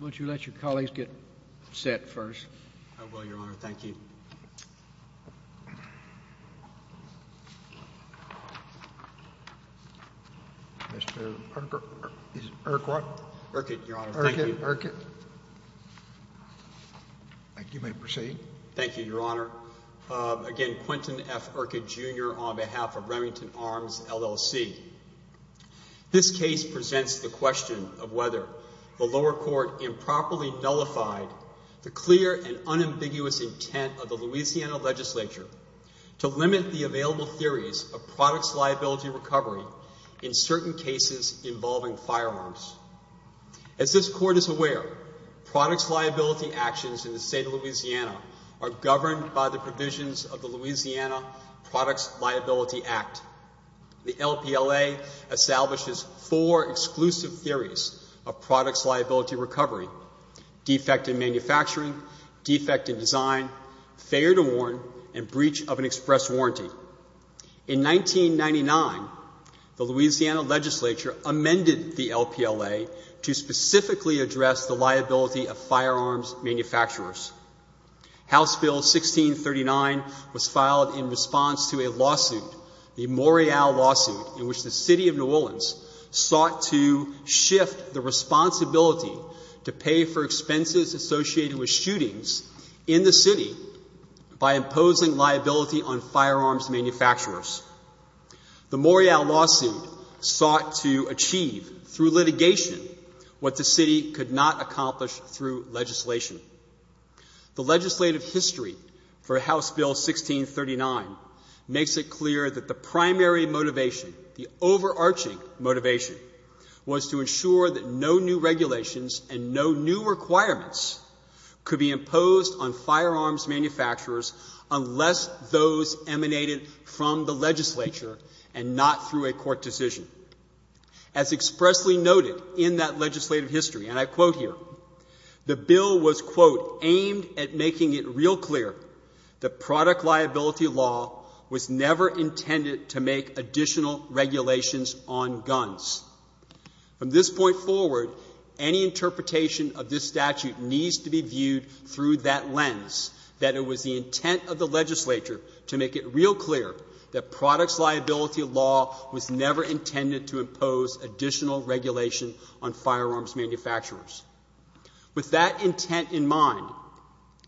Would you let your colleagues get set first? I will, Your Honor. Thank you. Mr. Urquhart. Urquhart. Urquhart, Your Honor. Thank you. Mr. Urquhart. Thank you. You may proceed. Thank you, Your Honor. Again, Quentin F. Urquhart, Jr. on behalf of Remington Arms, L.L.C. This case presents the question of whether the lower court improperly nullified the clear and unambiguous intent of the Louisiana legislature to limit the available theories of products liability recovery in certain cases involving firearms. As this Court is aware, products liability actions in the state of Louisiana are governed by the provisions of the Louisiana Products Liability Act. The LPLA establishes four exclusive theories of products liability recovery, defect in manufacturing, defect in design, failure to warn, and breach of an express warranty. In 1999, the Louisiana legislature amended the LPLA to specifically address the liability of firearms manufacturers. House Bill 1639 was filed in response to a lawsuit, the Morreale lawsuit, in which the City of New Orleans sought to shift the responsibility to pay for expenses associated with shootings in the city by imposing liability on firearms manufacturers. The Morreale lawsuit sought to achieve through litigation what the city could not accomplish through legislation. The legislative history for House Bill 1639 makes it clear that the primary motivation, the overarching motivation, was to ensure that no new regulations and no new requirements could be imposed on firearms manufacturers unless those emanated from the legislature and not through a court decision. As expressly noted in that legislative history, and I quote here, the bill was, quote, on guns. From this point forward, any interpretation of this statute needs to be viewed through that lens, that it was the intent of the legislature to make it real clear that products liability law was never intended to impose additional regulation on firearms manufacturers. With that intent in mind,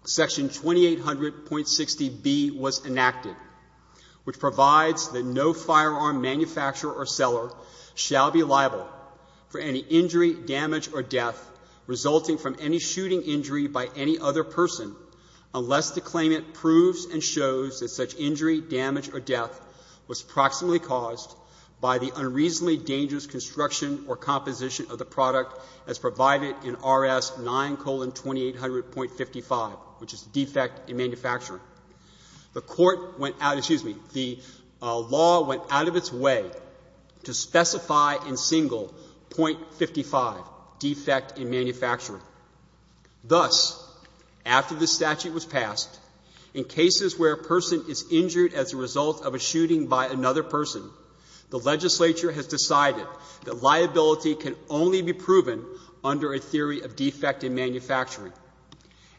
Section 2800.60b was enacted, which provides that no firearm manufacturer or seller shall be liable for any injury, damage, or death resulting from any shooting injury by any other person unless the claimant proves and shows that such injury, damage, or death was proximately caused by the unreasonably dangerous construction or composition of the product as provided in R.S. 9,2800.55, which is defect in manufacturing. The court went out, excuse me, the law went out of its way to specify in single .55, defect in manufacturing. Thus, after the statute was passed, in cases where a person is injured as a result of a shooting by another person, the legislature has decided that liability can only be proven under a theory of defect in manufacturing.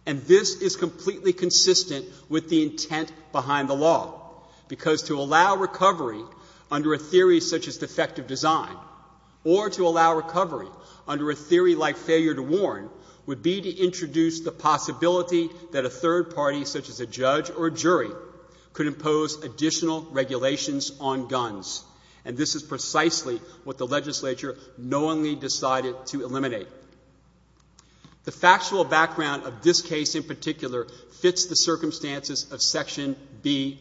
And this is completely consistent with the intent behind the law, because to allow recovery under a theory such as defective design, or to allow recovery under a theory like failure to warn, would be to introduce the possibility that a third party, such as a judge or jury, could impose additional regulations on guns. And this is precisely what the legislature knowingly decided to eliminate. The factual background of this case in particular fits the circumstances of Section B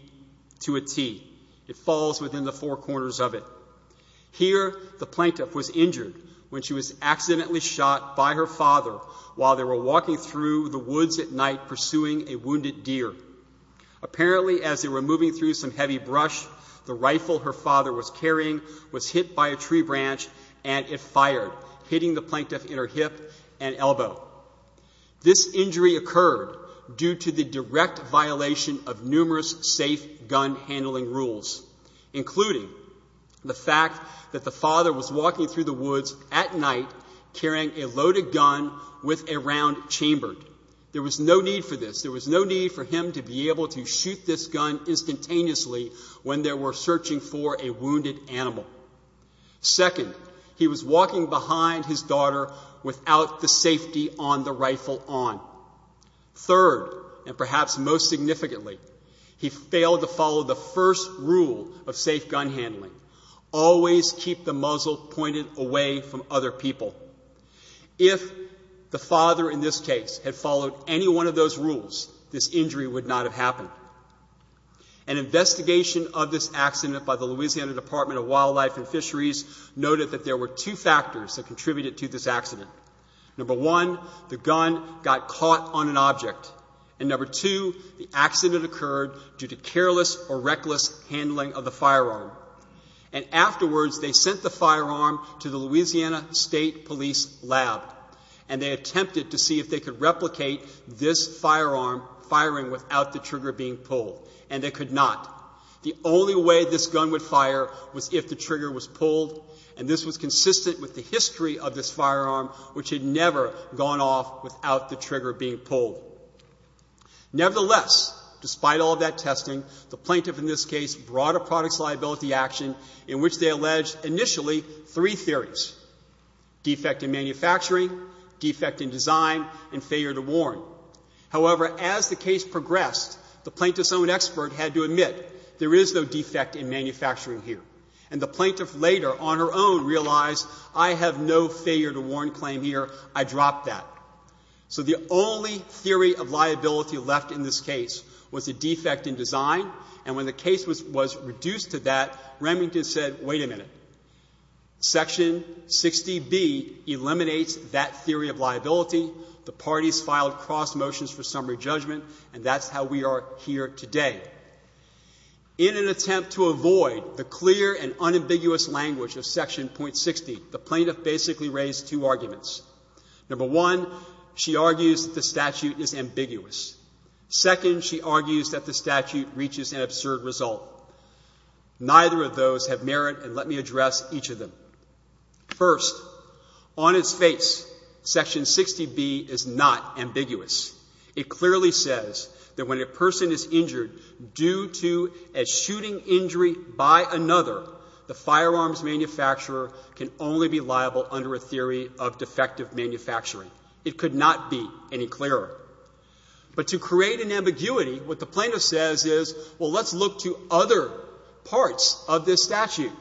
to a T. It falls within the four corners of it. Here, the plaintiff was injured when she was accidentally shot by her father while they were walking through the woods at night pursuing a wounded deer. Apparently, as they were moving through some heavy brush, the rifle her father was carrying was hit by a tree branch and it fired, hitting the plaintiff in her car. This injury occurred due to the direct violation of numerous safe gun handling rules, including the fact that the father was walking through the woods at night carrying a loaded gun with a round chambered. There was no need for this. There was no need for him to be able to shoot this gun instantaneously when they were searching for a wounded animal. Second, he was walking behind his daughter without the safety on the rifle on. Third, and perhaps most significantly, he failed to follow the first rule of safe gun handling, always keep the muzzle pointed away from other people. If the father in this case had followed any one of those rules, this injury would not have happened. An investigation of this accident by the Louisiana Department of Wildlife and Fisheries noted that there were two factors that contributed to this accident. Number one, the gun got caught on an object. And number two, the accident occurred due to careless or reckless handling of the firearm. And afterwards, they sent the firearm to the Louisiana State Police Lab, and they attempted to see if they could replicate this firearm firing without the trigger being pulled. And they could not. The only way this gun would fire was if the trigger was pulled. And this was consistent with the history of this firearm, which had never gone off without the trigger being pulled. Nevertheless, despite all that testing, the plaintiff in this case brought a products liability action in which they alleged initially three theories, defect in manufacturing, defect in design, and failure to warn. However, as the case progressed, the plaintiff's own expert had to admit there is no defect in manufacturing here. And the plaintiff later, on her own, realized, I have no failure to warn claim here. I dropped that. So the only theory of liability left in this case was a defect in design. And when the case was reduced to that, Remington said, wait a minute, Section 60B eliminates that theory of liability. The parties filed cross motions for summary judgment, and that's how we are here today. In an attempt to avoid the clear and unambiguous language of Section .60, the plaintiff basically raised two arguments. Number one, she argues that the statute is ambiguous. Second, she argues that the statute reaches an absurd result. Neither of those have merit, and let me address each of them. First, on its face, Section 60B is not ambiguous. It clearly says that when a person is injured due to a shooting injury by another, the firearms manufacturer can only be liable under a theory of defective manufacturing. It could not be any clearer. But to create an ambiguity, what the plaintiff says is, well, let's look to other parts of this statute. Second,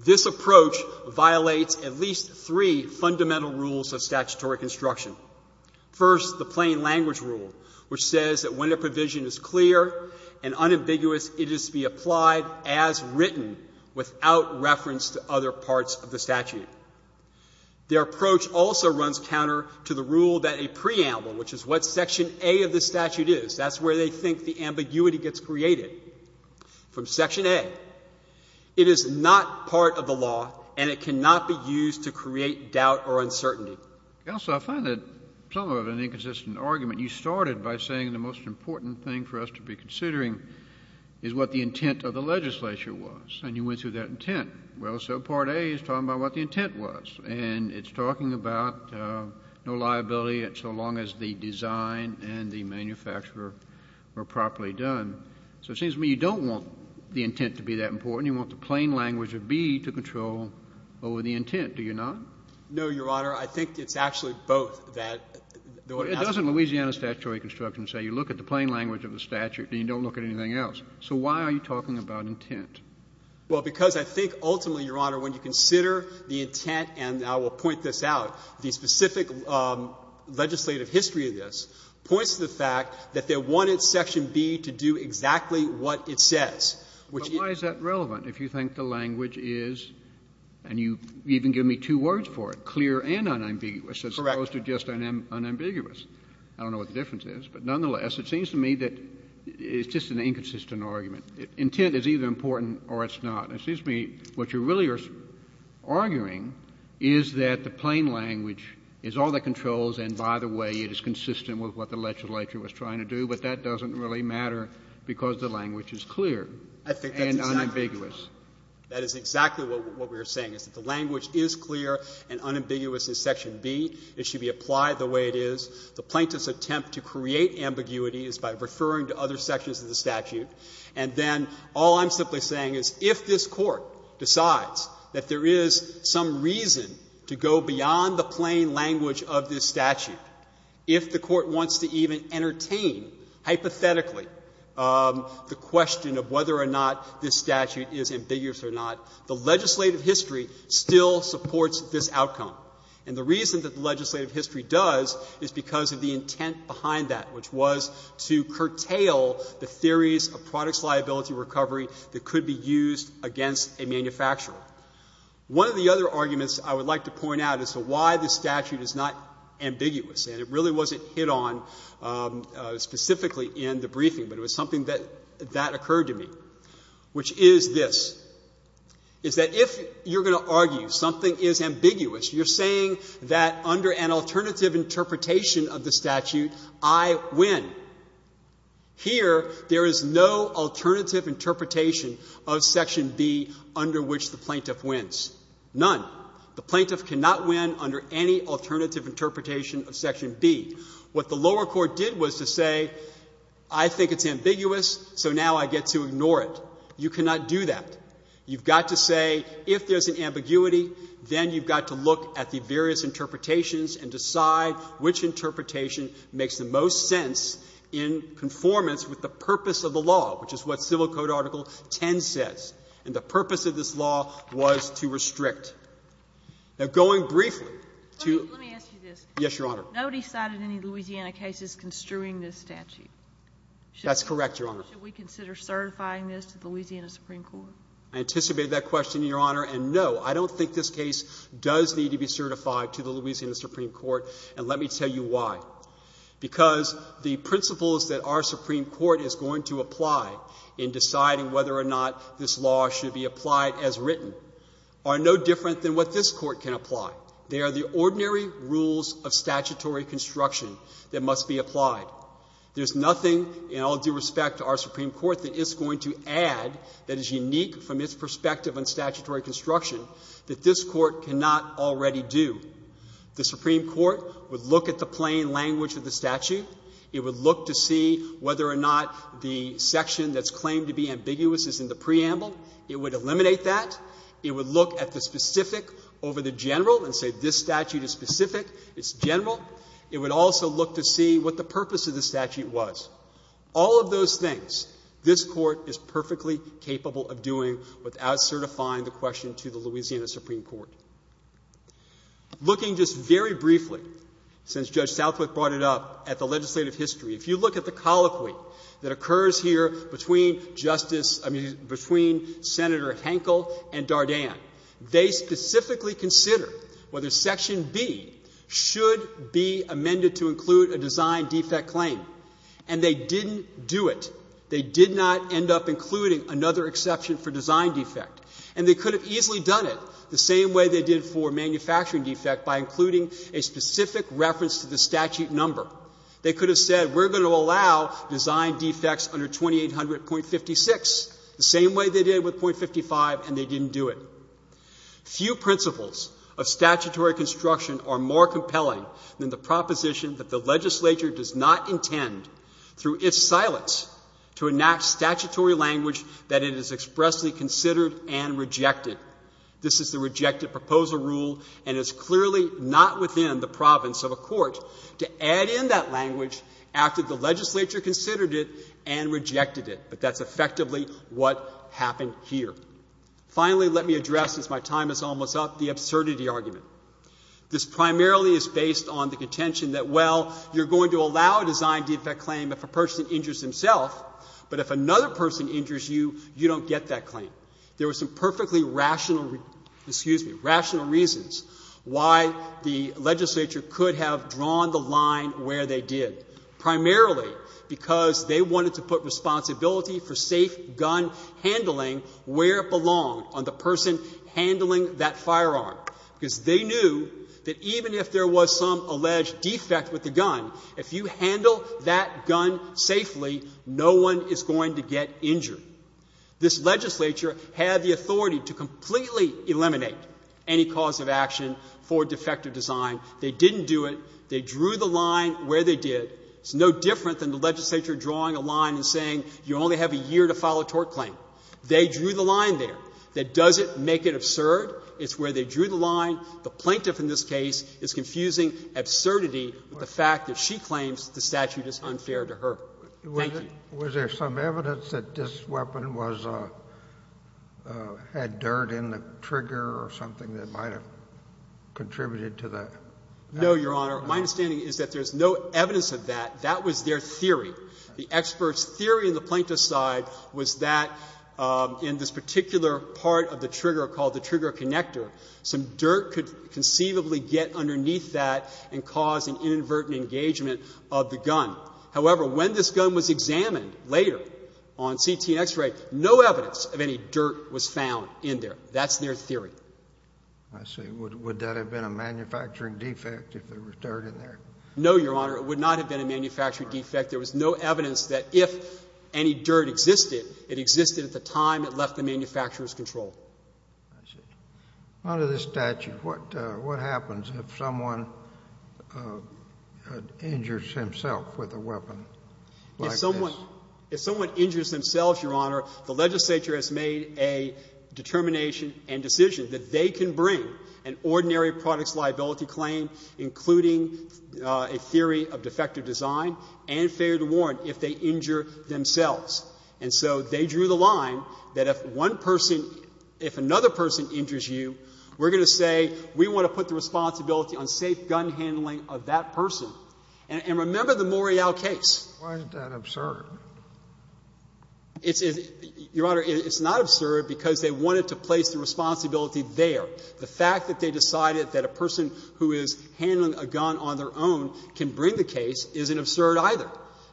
this approach violates at least three fundamental rules of statutory construction. First, the plain language rule, which says that when a provision is clear and unambiguous, it is to be applied as written without reference to other parts of the statute. Their approach also runs counter to the rule that a preamble, which is what Section A of the statute is, that's where they think the ambiguity gets created. From Section A, it is not part of the law and it cannot be used to create doubt or uncertainty. Counsel, I find that somewhat of an inconsistent argument. You started by saying the most important thing for us to be considering is what the intent of the legislature was, and you went through that intent. Well, so Part A is talking about what the intent was, and it's talking about no liability so long as the design and the manufacturer were properly done. So it seems to me you don't want the intent to be that important. You want the plain language of B to control over the intent, do you not? No, Your Honor. I think it's actually both, that the order has to be clear. But doesn't Louisiana statutory construction say you look at the plain language of the statute and you don't look at anything else? So why are you talking about intent? Well, because I think ultimately, Your Honor, when you consider the intent, and I will point this out, the specific legislative history of this points to the fact that they are not going to do exactly what it says. But why is that relevant if you think the language is, and you even give me two words for it, clear and unambiguous, as opposed to just unambiguous? I don't know what the difference is, but nonetheless, it seems to me that it's just an inconsistent argument. Intent is either important or it's not. It seems to me what you really are arguing is that the plain language is all that controls and, by the way, it is consistent with what the legislature was trying to do, but that doesn't really matter because the language is clear and unambiguous. That is exactly what we are saying, is that the language is clear and unambiguous in section B. It should be applied the way it is. The plaintiff's attempt to create ambiguity is by referring to other sections of the statute. And then all I'm simply saying is if this Court decides that there is some reason to go beyond the plain language of this statute, if the Court wants to even entertain hypothetically the question of whether or not this statute is ambiguous or not, the legislative history still supports this outcome. And the reason that the legislative history does is because of the intent behind that, which was to curtail the theories of products liability recovery that could be used against a manufacturer. One of the other arguments I would like to point out as to why this statute is not specifically in the briefing, but it was something that occurred to me, which is this, is that if you're going to argue something is ambiguous, you're saying that under an alternative interpretation of the statute, I win. Here, there is no alternative interpretation of section B under which the plaintiff wins. None. The plaintiff cannot win under any alternative interpretation of section B. What the lower court did was to say, I think it's ambiguous, so now I get to ignore it. You cannot do that. You've got to say if there's an ambiguity, then you've got to look at the various interpretations and decide which interpretation makes the most sense in conformance with the purpose of the law, which is what Civil Code Article 10 says. And the purpose of this law was to restrict. I anticipate that question, Your Honor, and no, I don't think this case does need to be certified to the Louisiana Supreme Court, and let me tell you why, because the principles that our Supreme Court is going to apply in deciding whether or not this law should be applied as written are no different than what this Court can apply. They are the ordinary rules of statutory construction that must be applied. There's nothing in all due respect to our Supreme Court that it's going to add that is unique from its perspective on statutory construction that this Court cannot already do. The Supreme Court would look at the plain language of the statute. It would look to see whether or not the section that's claimed to be ambiguous is in the preamble. It would eliminate that. It would look at the specific over the general and say this statute is specific, it's general. It would also look to see what the purpose of the statute was. All of those things this Court is perfectly capable of doing without certifying the question to the Louisiana Supreme Court. Looking just very briefly, since Judge Southwick brought it up, at the legislative history, if you look at the colloquy that occurs here between Justice — I mean, between Senator Henkel and Dardenne, they specifically consider whether section B should be amended to include a design defect claim. And they didn't do it. They did not end up including another exception for design defect. And they could have easily done it the same way they did for manufacturing defect by including a specific reference to the statute number. They could have said we're going to allow design defects under 2800.56 the same way they did with .55, and they didn't do it. Few principles of statutory construction are more compelling than the proposition that the legislature does not intend, through its silence, to enact statutory language that it has expressly considered and rejected. This is the rejected proposal rule, and it's clearly not within the province of a court to add in that language after the legislature considered it and rejected it. But that's effectively what happened here. Finally, let me address, as my time is almost up, the absurdity argument. This primarily is based on the contention that, well, you're going to allow a design defect claim if a person injures himself, but if another person injures you, you don't get that claim. There were some perfectly rational — excuse me — rational reasons why the legislature could have drawn the line where they did, primarily because they wanted to put responsibility for safe gun handling where it belonged, on the person handling that firearm, because they knew that even if there was some alleged defect with the gun, if you handle that gun safely, no one is going to get injured. This legislature had the authority to completely eliminate any cause of action for defective design. They didn't do it. They drew the line where they did. It's no different than the legislature drawing a line and saying you only have a year to file a tort claim. They drew the line there. That doesn't make it absurd. It's where they drew the line. The plaintiff in this case is confusing absurdity with the fact that she claims the statute is unfair to her. Thank you. Kennedy. Was there some evidence that this weapon was — had dirt in the trigger or something that might have contributed to the — No, Your Honor. My understanding is that there's no evidence of that. That was their theory. The expert's theory on the plaintiff's side was that in this particular part of the trigger called the trigger connector, some dirt could conceivably get underneath that and cause an inadvertent engagement of the gun. However, when this gun was examined later on CT and X-ray, no evidence of any dirt was found in there. That's their theory. I see. Would that have been a manufacturing defect if there was dirt in there? No, Your Honor. It would not have been a manufacturing defect. There was no evidence that if any dirt existed, it existed at the time it left the manufacturer's control. I see. Under this statute, what happens if someone injures himself with a weapon like this? If someone — if someone injures themselves, Your Honor, the legislature has made a determination and decision that they can bring an ordinary product's liability claim, including a theory of defective design and failure to warrant if they injure themselves. And so they drew the line that if one person — if another person injures you, we're going to say we want to put the responsibility on safe gun handling of that person. And remember the Morial case. Why is that absurd? It's — Your Honor, it's not absurd because they wanted to place the responsibility there. The fact that they decided that a person who is handling a gun on their own can bring the case isn't absurd either.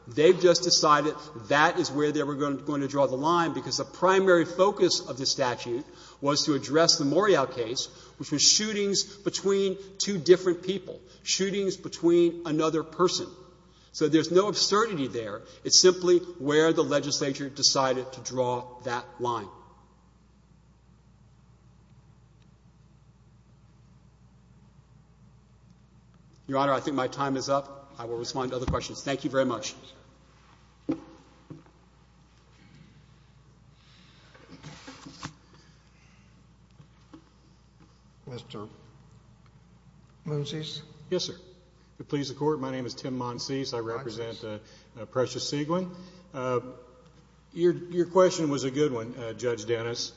They've just decided that is where they were going to draw the line because the primary focus of the statute was to address the Morial case, which was shootings between two different people, shootings between another person. So there's no absurdity there. It's simply where the legislature decided to draw that line. Your Honor, I think my time is up. I will respond to other questions. Thank you very much. Mr. Monsies? Yes, sir. To please the Court, my name is Tim Monsies. I represent Precious Seguin. Your question was a good one, Judge Dennis.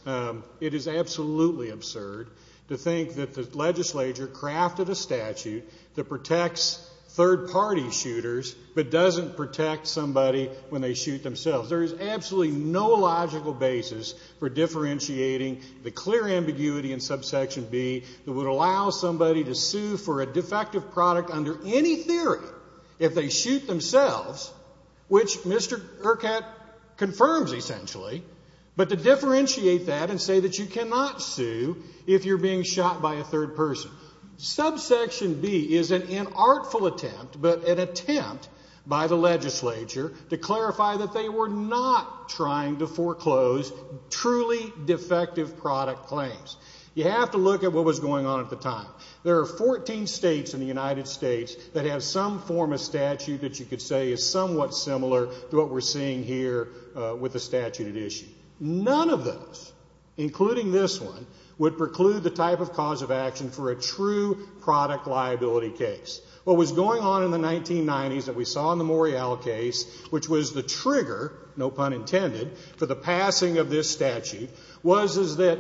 It is absolutely absurd to think that the legislature crafted a statute that protects third-party shooters but doesn't protect somebody when they shoot themselves. There is absolutely no logical basis for differentiating the clear ambiguity in Subsection B that would allow somebody to sue for a defective product under any theory if they shoot themselves, which Mr. Urquhart confirms essentially, but to differentiate that and say that you cannot sue if you're being shot by a third person. Subsection B is an inartful attempt, but an attempt by the legislature to clarify that they were not trying to foreclose truly defective product claims. You have to look at what was going on at the time. There are 14 states in the United States that have some form of statute that you could say is somewhat similar to what we're seeing here with the statute at issue. None of those, including this one, would preclude the type of cause of action for a true product liability case. What was going on in the 1990s that we saw in the Morial case, which was the trigger, no pun intended, for the passing of this statute, was that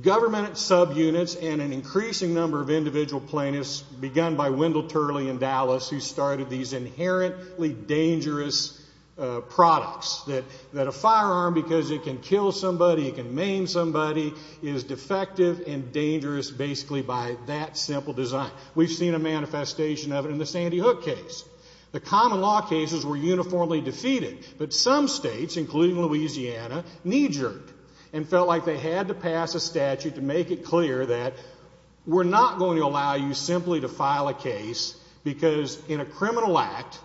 government subunits and an increasing number of individual plaintiffs, begun by Wendell Turley in Dallas, who started these inherently dangerous products, that a firearm, because it can kill somebody, it can maim somebody, is defective and dangerous basically by that simple design. We've seen a manifestation of it in the Sandy Hook case. The common law cases were uniformly defeated, but some states, including Louisiana, knee-jerked and felt like they had to pass a statute to make it clear that we're not going to allow you simply to file a case because in a criminal act,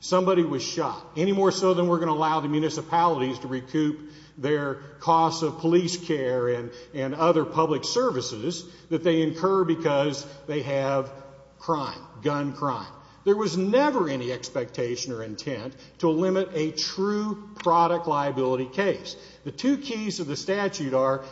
somebody was shot, any more so than we're going to allow the municipalities to recoup their costs of police care and other public services that they incur because they have crime, gun crime. There was never any expectation or intent to limit a true product liability case. The two keys of the statute are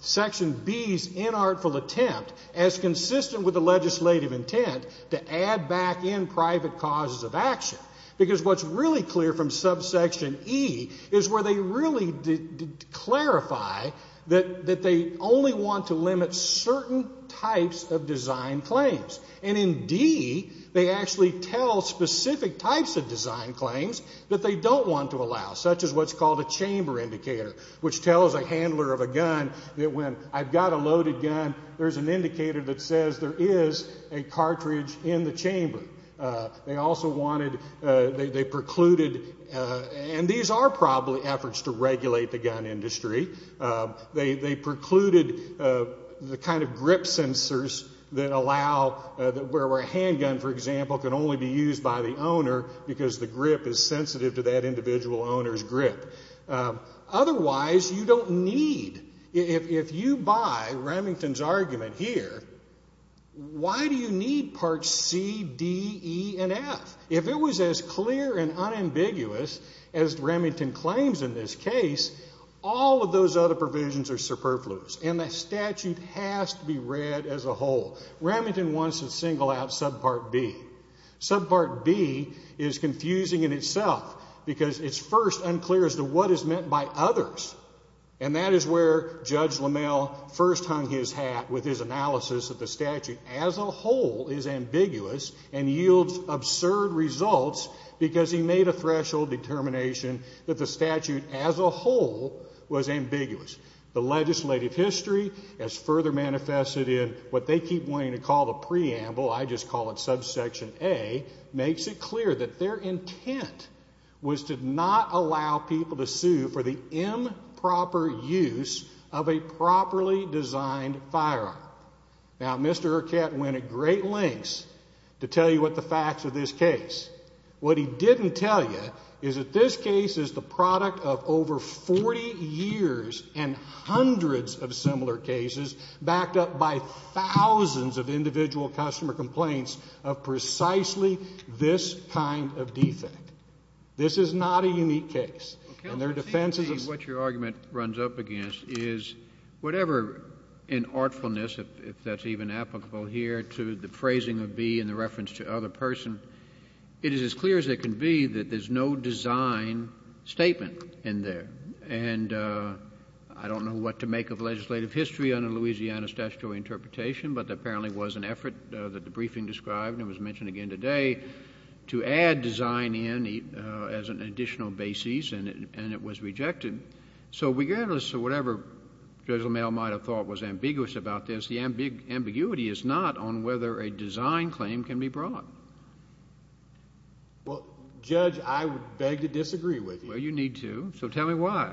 Section B's inartful attempt, as consistent with the legislative intent, to add back in private causes of action, because what's really clear from subsection E is where they really did clarify that they only want to limit certain types of design claims. And in D, they actually tell specific types of design claims that they don't want to allow, such as what's called a chamber indicator, which tells a handler of a gun that when I've got a loaded gun, there's an indicator that says there is a cartridge in the chamber. They also wanted, they precluded, and these are probably efforts to regulate the gun industry, they precluded the kind of grip sensors that allow, where a handgun, for example, can only be used by the owner because the grip is sensitive to that individual owner's grip. Otherwise, you don't need, if you buy Remington's argument here, why do you need parts C, D, E, and F? If it was as clear and unambiguous as Remington claims in this case, all of those other provisions are superfluous, and the Remington wants to single out subpart B. Subpart B is confusing in itself because it's first unclear as to what is meant by others, and that is where Judge LaMalle first hung his hat with his analysis that the statute as a whole is ambiguous and yields absurd results because he made a threshold determination that the statute as a whole was ambiguous. The legislative history has further manifested in what they keep wanting to call the preamble, I just call it subsection A, makes it clear that their intent was to not allow people to sue for the improper use of a properly designed firearm. Now, Mr. Urquette went at great lengths to tell you what the facts of this case. What he didn't tell you is that this case is the product of over 40 years and hundreds of similar cases backed up by thousands of individual customer complaints of precisely this kind of defect. This is not a unique case, and their defenses of what your argument runs up against is whatever in artfulness, if that's even applicable here, to the phrasing of B in the reference to other person, it is as clear as it can be that there's no design statement in there. And I don't know what to make of legislative history on a Louisiana statutory interpretation, but there apparently was an effort that the briefing described, and it was mentioned again today, to add design in as an additional basis, and it was rejected. So regardless of whatever Judge LaMalle might have thought was ambiguous about this, the ambiguity is not on whether a design claim can be brought. Well, Judge, I would beg to disagree with you. Well, you need to, so tell me why.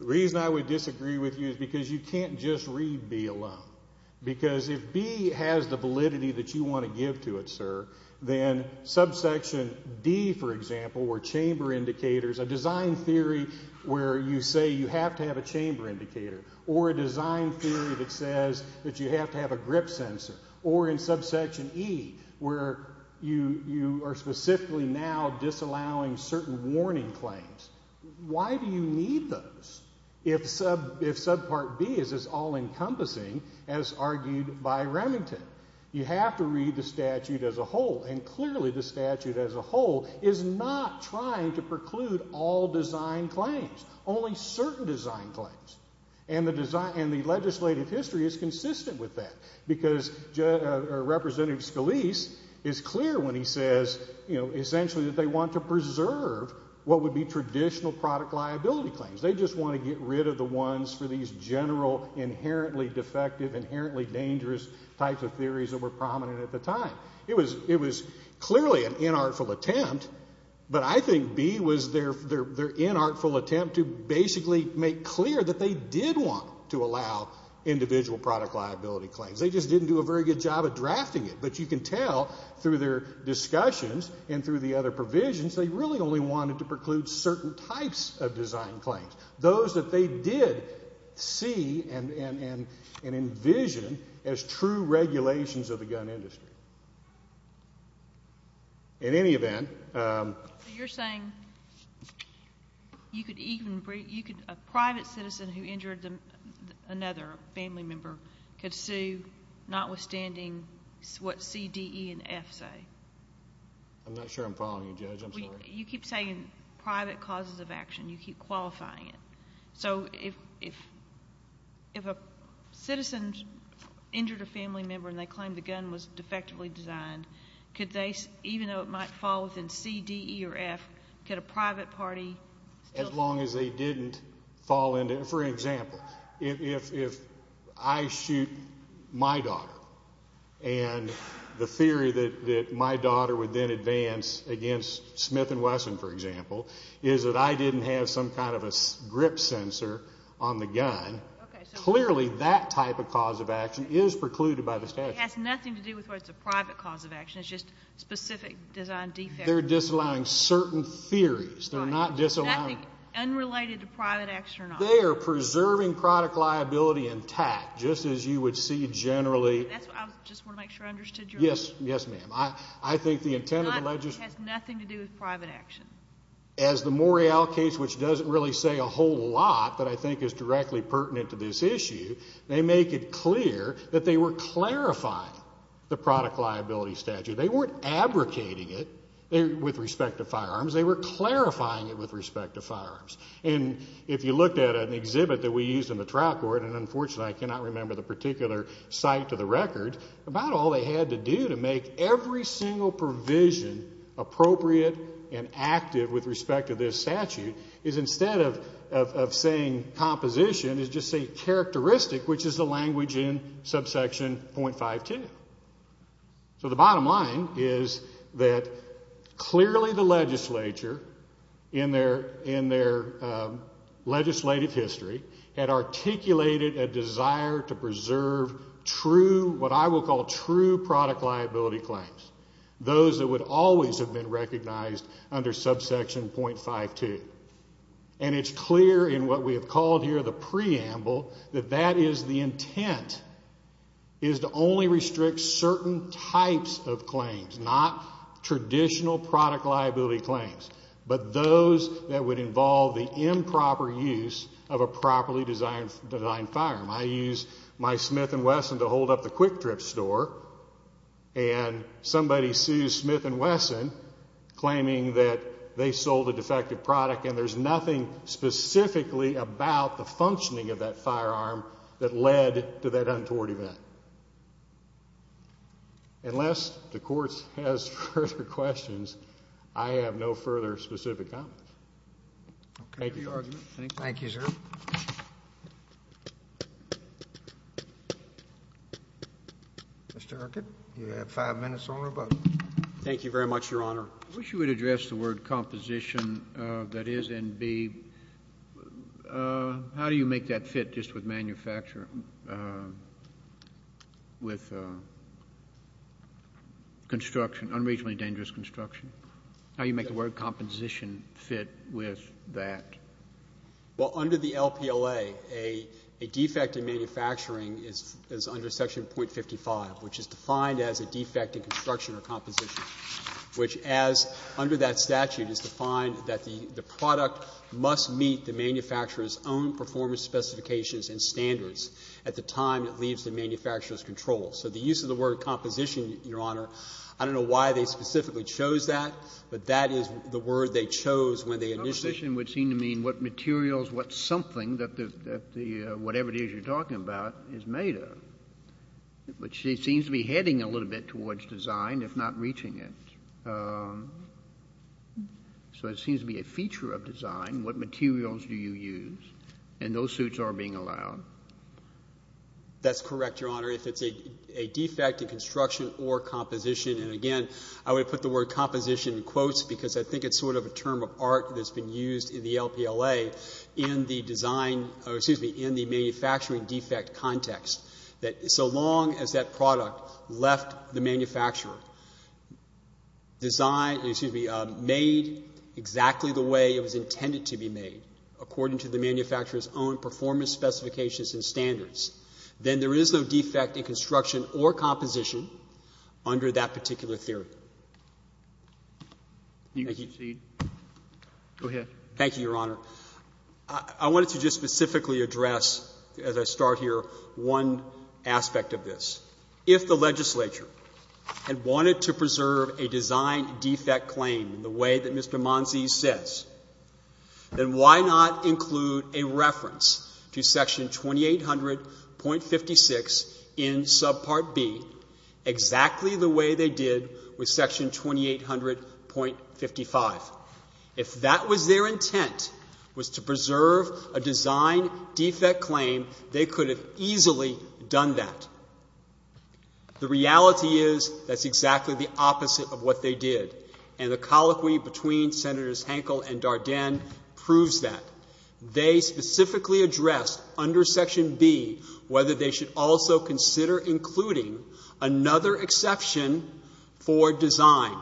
The reason I would disagree with you is because you can't just read B alone, because if B has the validity that you want to give to it, sir, then subsection D, for example, or chamber indicators, a design theory where you say you have to have a chamber indicator, or a design theory that says that you have to have a grip sensor, or in subsection E, where you are specifically now disallowing certain warning claims. Why do you need those if subpart B is as all-encompassing as argued by Remington? You have to read the statute as a whole, and clearly the statute as a whole is not trying to preclude all design claims, only certain design claims, and the legislative history is consistent with that, because Representative Scalise is clear when he says, you know, essentially that they want to preserve what would be traditional product liability claims. They just want to get rid of the ones for these general inherently defective, inherently dangerous types of theories that were prominent at the time. It was clearly an inartful attempt, but I think B was their inartful attempt to basically make clear that they did want to allow individual product liability claims. They just didn't do a very good job of drafting it, but you can tell through their discussions and through the other provisions, they really only wanted to preclude certain types of design claims, those that they did see and envision as true regulations of the gun industry. In any event... You're saying you could even, you could, a private citizen who injured another family member could sue notwithstanding what C, D, E, and F say? I'm not sure I'm following you, Judge. I'm sorry. You keep saying private causes of action. You keep qualifying it. So if a citizen injured a family member and they claimed the gun was defectively designed, could they, even though it might fall within C, D, E, or F, could a private party still... As long as they didn't fall into, for example, if I shoot my daughter and the theory that my daughter would then advance against Smith & Wesson, for example, is that I didn't have some kind of a grip sensor on the gun, clearly that type of cause of action is precluded by the statute. It has nothing to do with whether it's a private cause of action. It's just specific design defects. They're disallowing certain theories. They're not disallowing... Nothing unrelated to private action or not. They are preserving product liability intact, just as you would see generally... That's what I was, just want to make sure I understood you. Yes, yes, ma'am. I think the intent of the legislature... It has nothing to do with private action. As the Morial case, which doesn't really say a whole lot that I think is directly pertinent to this issue, they make it clear that they were clarifying the product liability statute. They weren't abrogating it with respect to firearms. They were clarifying it with respect to firearms. If you looked at an exhibit that we used in the trial court, and unfortunately I cannot remember the particular site to the record, about all they had to do to make every single provision appropriate and active with respect to this statute is instead of saying composition, is just say characteristic, which is the language in subsection .52. So the bottom line is that clearly the legislature in their legislative history had articulated a desire to preserve true, what I will call true product liability claims, those that would always have been recognized under subsection .52. And it's clear in what we have called here the preamble that that is the intent, is to only restrict certain types of claims, not traditional product liability claims, but those that would involve the improper use of a properly designed firearm. I use my Smith & Wesson to hold up the quick trip store and somebody sues Smith & Wesson claiming that they sold a defective product and there's nothing specifically about the functioning of that firearm that led to that untoward event. Unless the court has further questions, I have no further specific comment. Thank you, Your Honor. Thank you, sir. Mr. Erkin, you have five minutes on your button. Thank you very much, Your Honor. I wish you would address the word composition that is in B. How do you make that fit just with manufacture, with construction, unregionally dangerous construction? How do you make the word composition fit with that? Well, under the LPLA, a defect in manufacturing is under section .55, which is defined as a defect in construction or composition, which as under that statute is defined that the product must meet the manufacturer's own performance specifications and standards at the time it leaves the manufacturer's control. So the use of the word composition, Your Honor, I don't know why they specifically chose that, but that is the word they chose when they initiated it. Composition would seem to mean what materials, what something that the, whatever it is you're talking about is made of, which seems to be heading a little bit towards design, if not reaching it. So it seems to be a feature of design. What materials do you use? And those suits are being allowed. That's correct, Your Honor. If it's a defect in construction or composition, and again, I would put the word composition in quotes because I think it's sort of a term of art that's been used in the LPLA in the design, or excuse me, in the manufacturing defect context. That so long as that product left the manufacturer, design, excuse me, made exactly the way it was intended to be made according to the manufacturer's own performance specifications and standards, then there is no defect in construction or composition under that particular theory. Thank you. Go ahead. Thank you, Your Honor. I wanted to just specifically address, as I start here, one aspect of this. If the legislature had wanted to preserve a design defect claim in the way that Mr. Monzi says, then why not include a reference to Section 2800.56 in Subpart B exactly the way they did with Section 2800.55? If that was their intent, was to preserve a design defect claim, they could have easily done that. The reality is that's exactly the opposite of what they did. And the colloquy between Senators Hankel and Dardenne proves that. They specifically addressed under Section B whether they should also consider including another exception for design,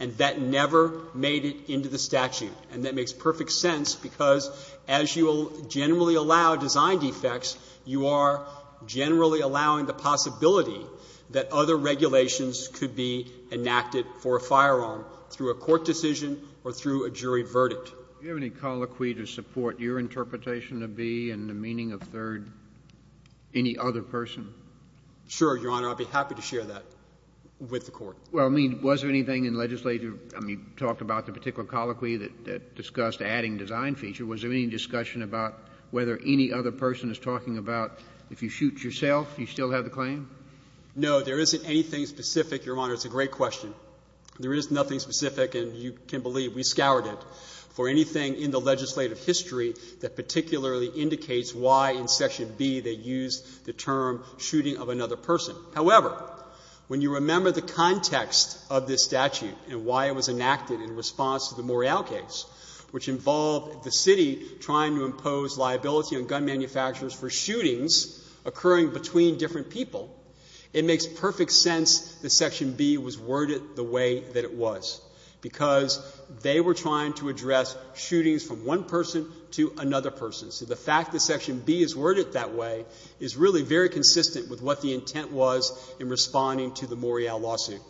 and that never made it into the statute. And that makes perfect sense, because as you will generally allow design defects, you are generally allowing the possibility that other regulations could be enacted for a firearm through a court decision or through a jury verdict. Do you have any colloquy to support your interpretation of B and the meaning of third? Any other person? Sure, Your Honor. I'd be happy to share that with the Court. Well, I mean, was there anything in legislature, I mean, you talked about the particular colloquy that discussed adding design feature. Was there any discussion about whether any other person is talking about if you shoot yourself, you still have the claim? No, there isn't anything specific, Your Honor. It's a great question. There is nothing specific, and you can believe we scoured it, for anything in the legislative history that particularly indicates why in Section B they used the term shooting of another person. However, when you remember the context of this statute and why it was enacted in response to the Morial case, which involved the city trying to impose liability on gun manufacturers for shootings occurring between different people, it makes perfect sense that Section B was worded the way that it was, because they were trying to address shootings from one person to another person. So the fact that Section B is worded that way is really very consistent with what the intent was in responding to the Morial lawsuit.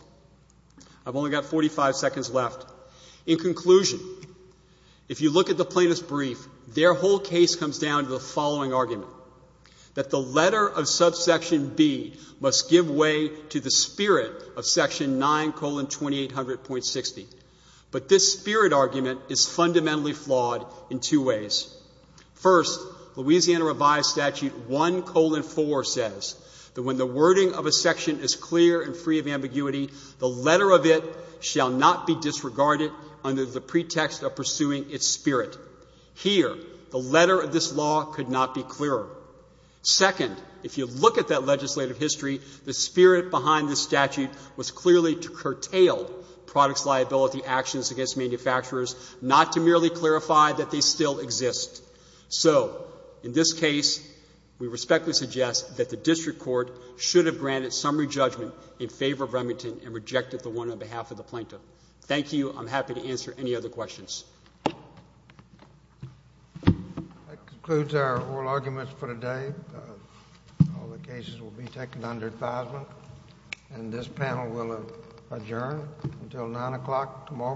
I've only got 45 seconds left. In conclusion, if you look at the plaintiff's brief, their whole case comes down to the following argument, that the letter of subsection B must give way to the spirit of Section 9, colon, 2800.60. But this spirit argument is fundamentally flawed in two ways. First, Louisiana Revised Statute 1, colon, 4 says that when the wording of a section is clear and free of ambiguity, the letter of it shall not be disregarded under the pretext of pursuing its spirit. Here, the letter of this law could not be clearer. Second, if you look at that legislative history, the spirit behind this statute was clearly to curtail products liability actions against manufacturers, not to merely clarify that they still exist. So, in this case, we respectfully suggest that the district court should have granted summary judgment in favor of Remington and rejected the one on behalf of the plaintiff. Thank you. I'm happy to answer any other questions. That concludes our oral arguments for today. All the cases will be taken under advisement. And this panel will adjourn until 9 o'clock tomorrow morning.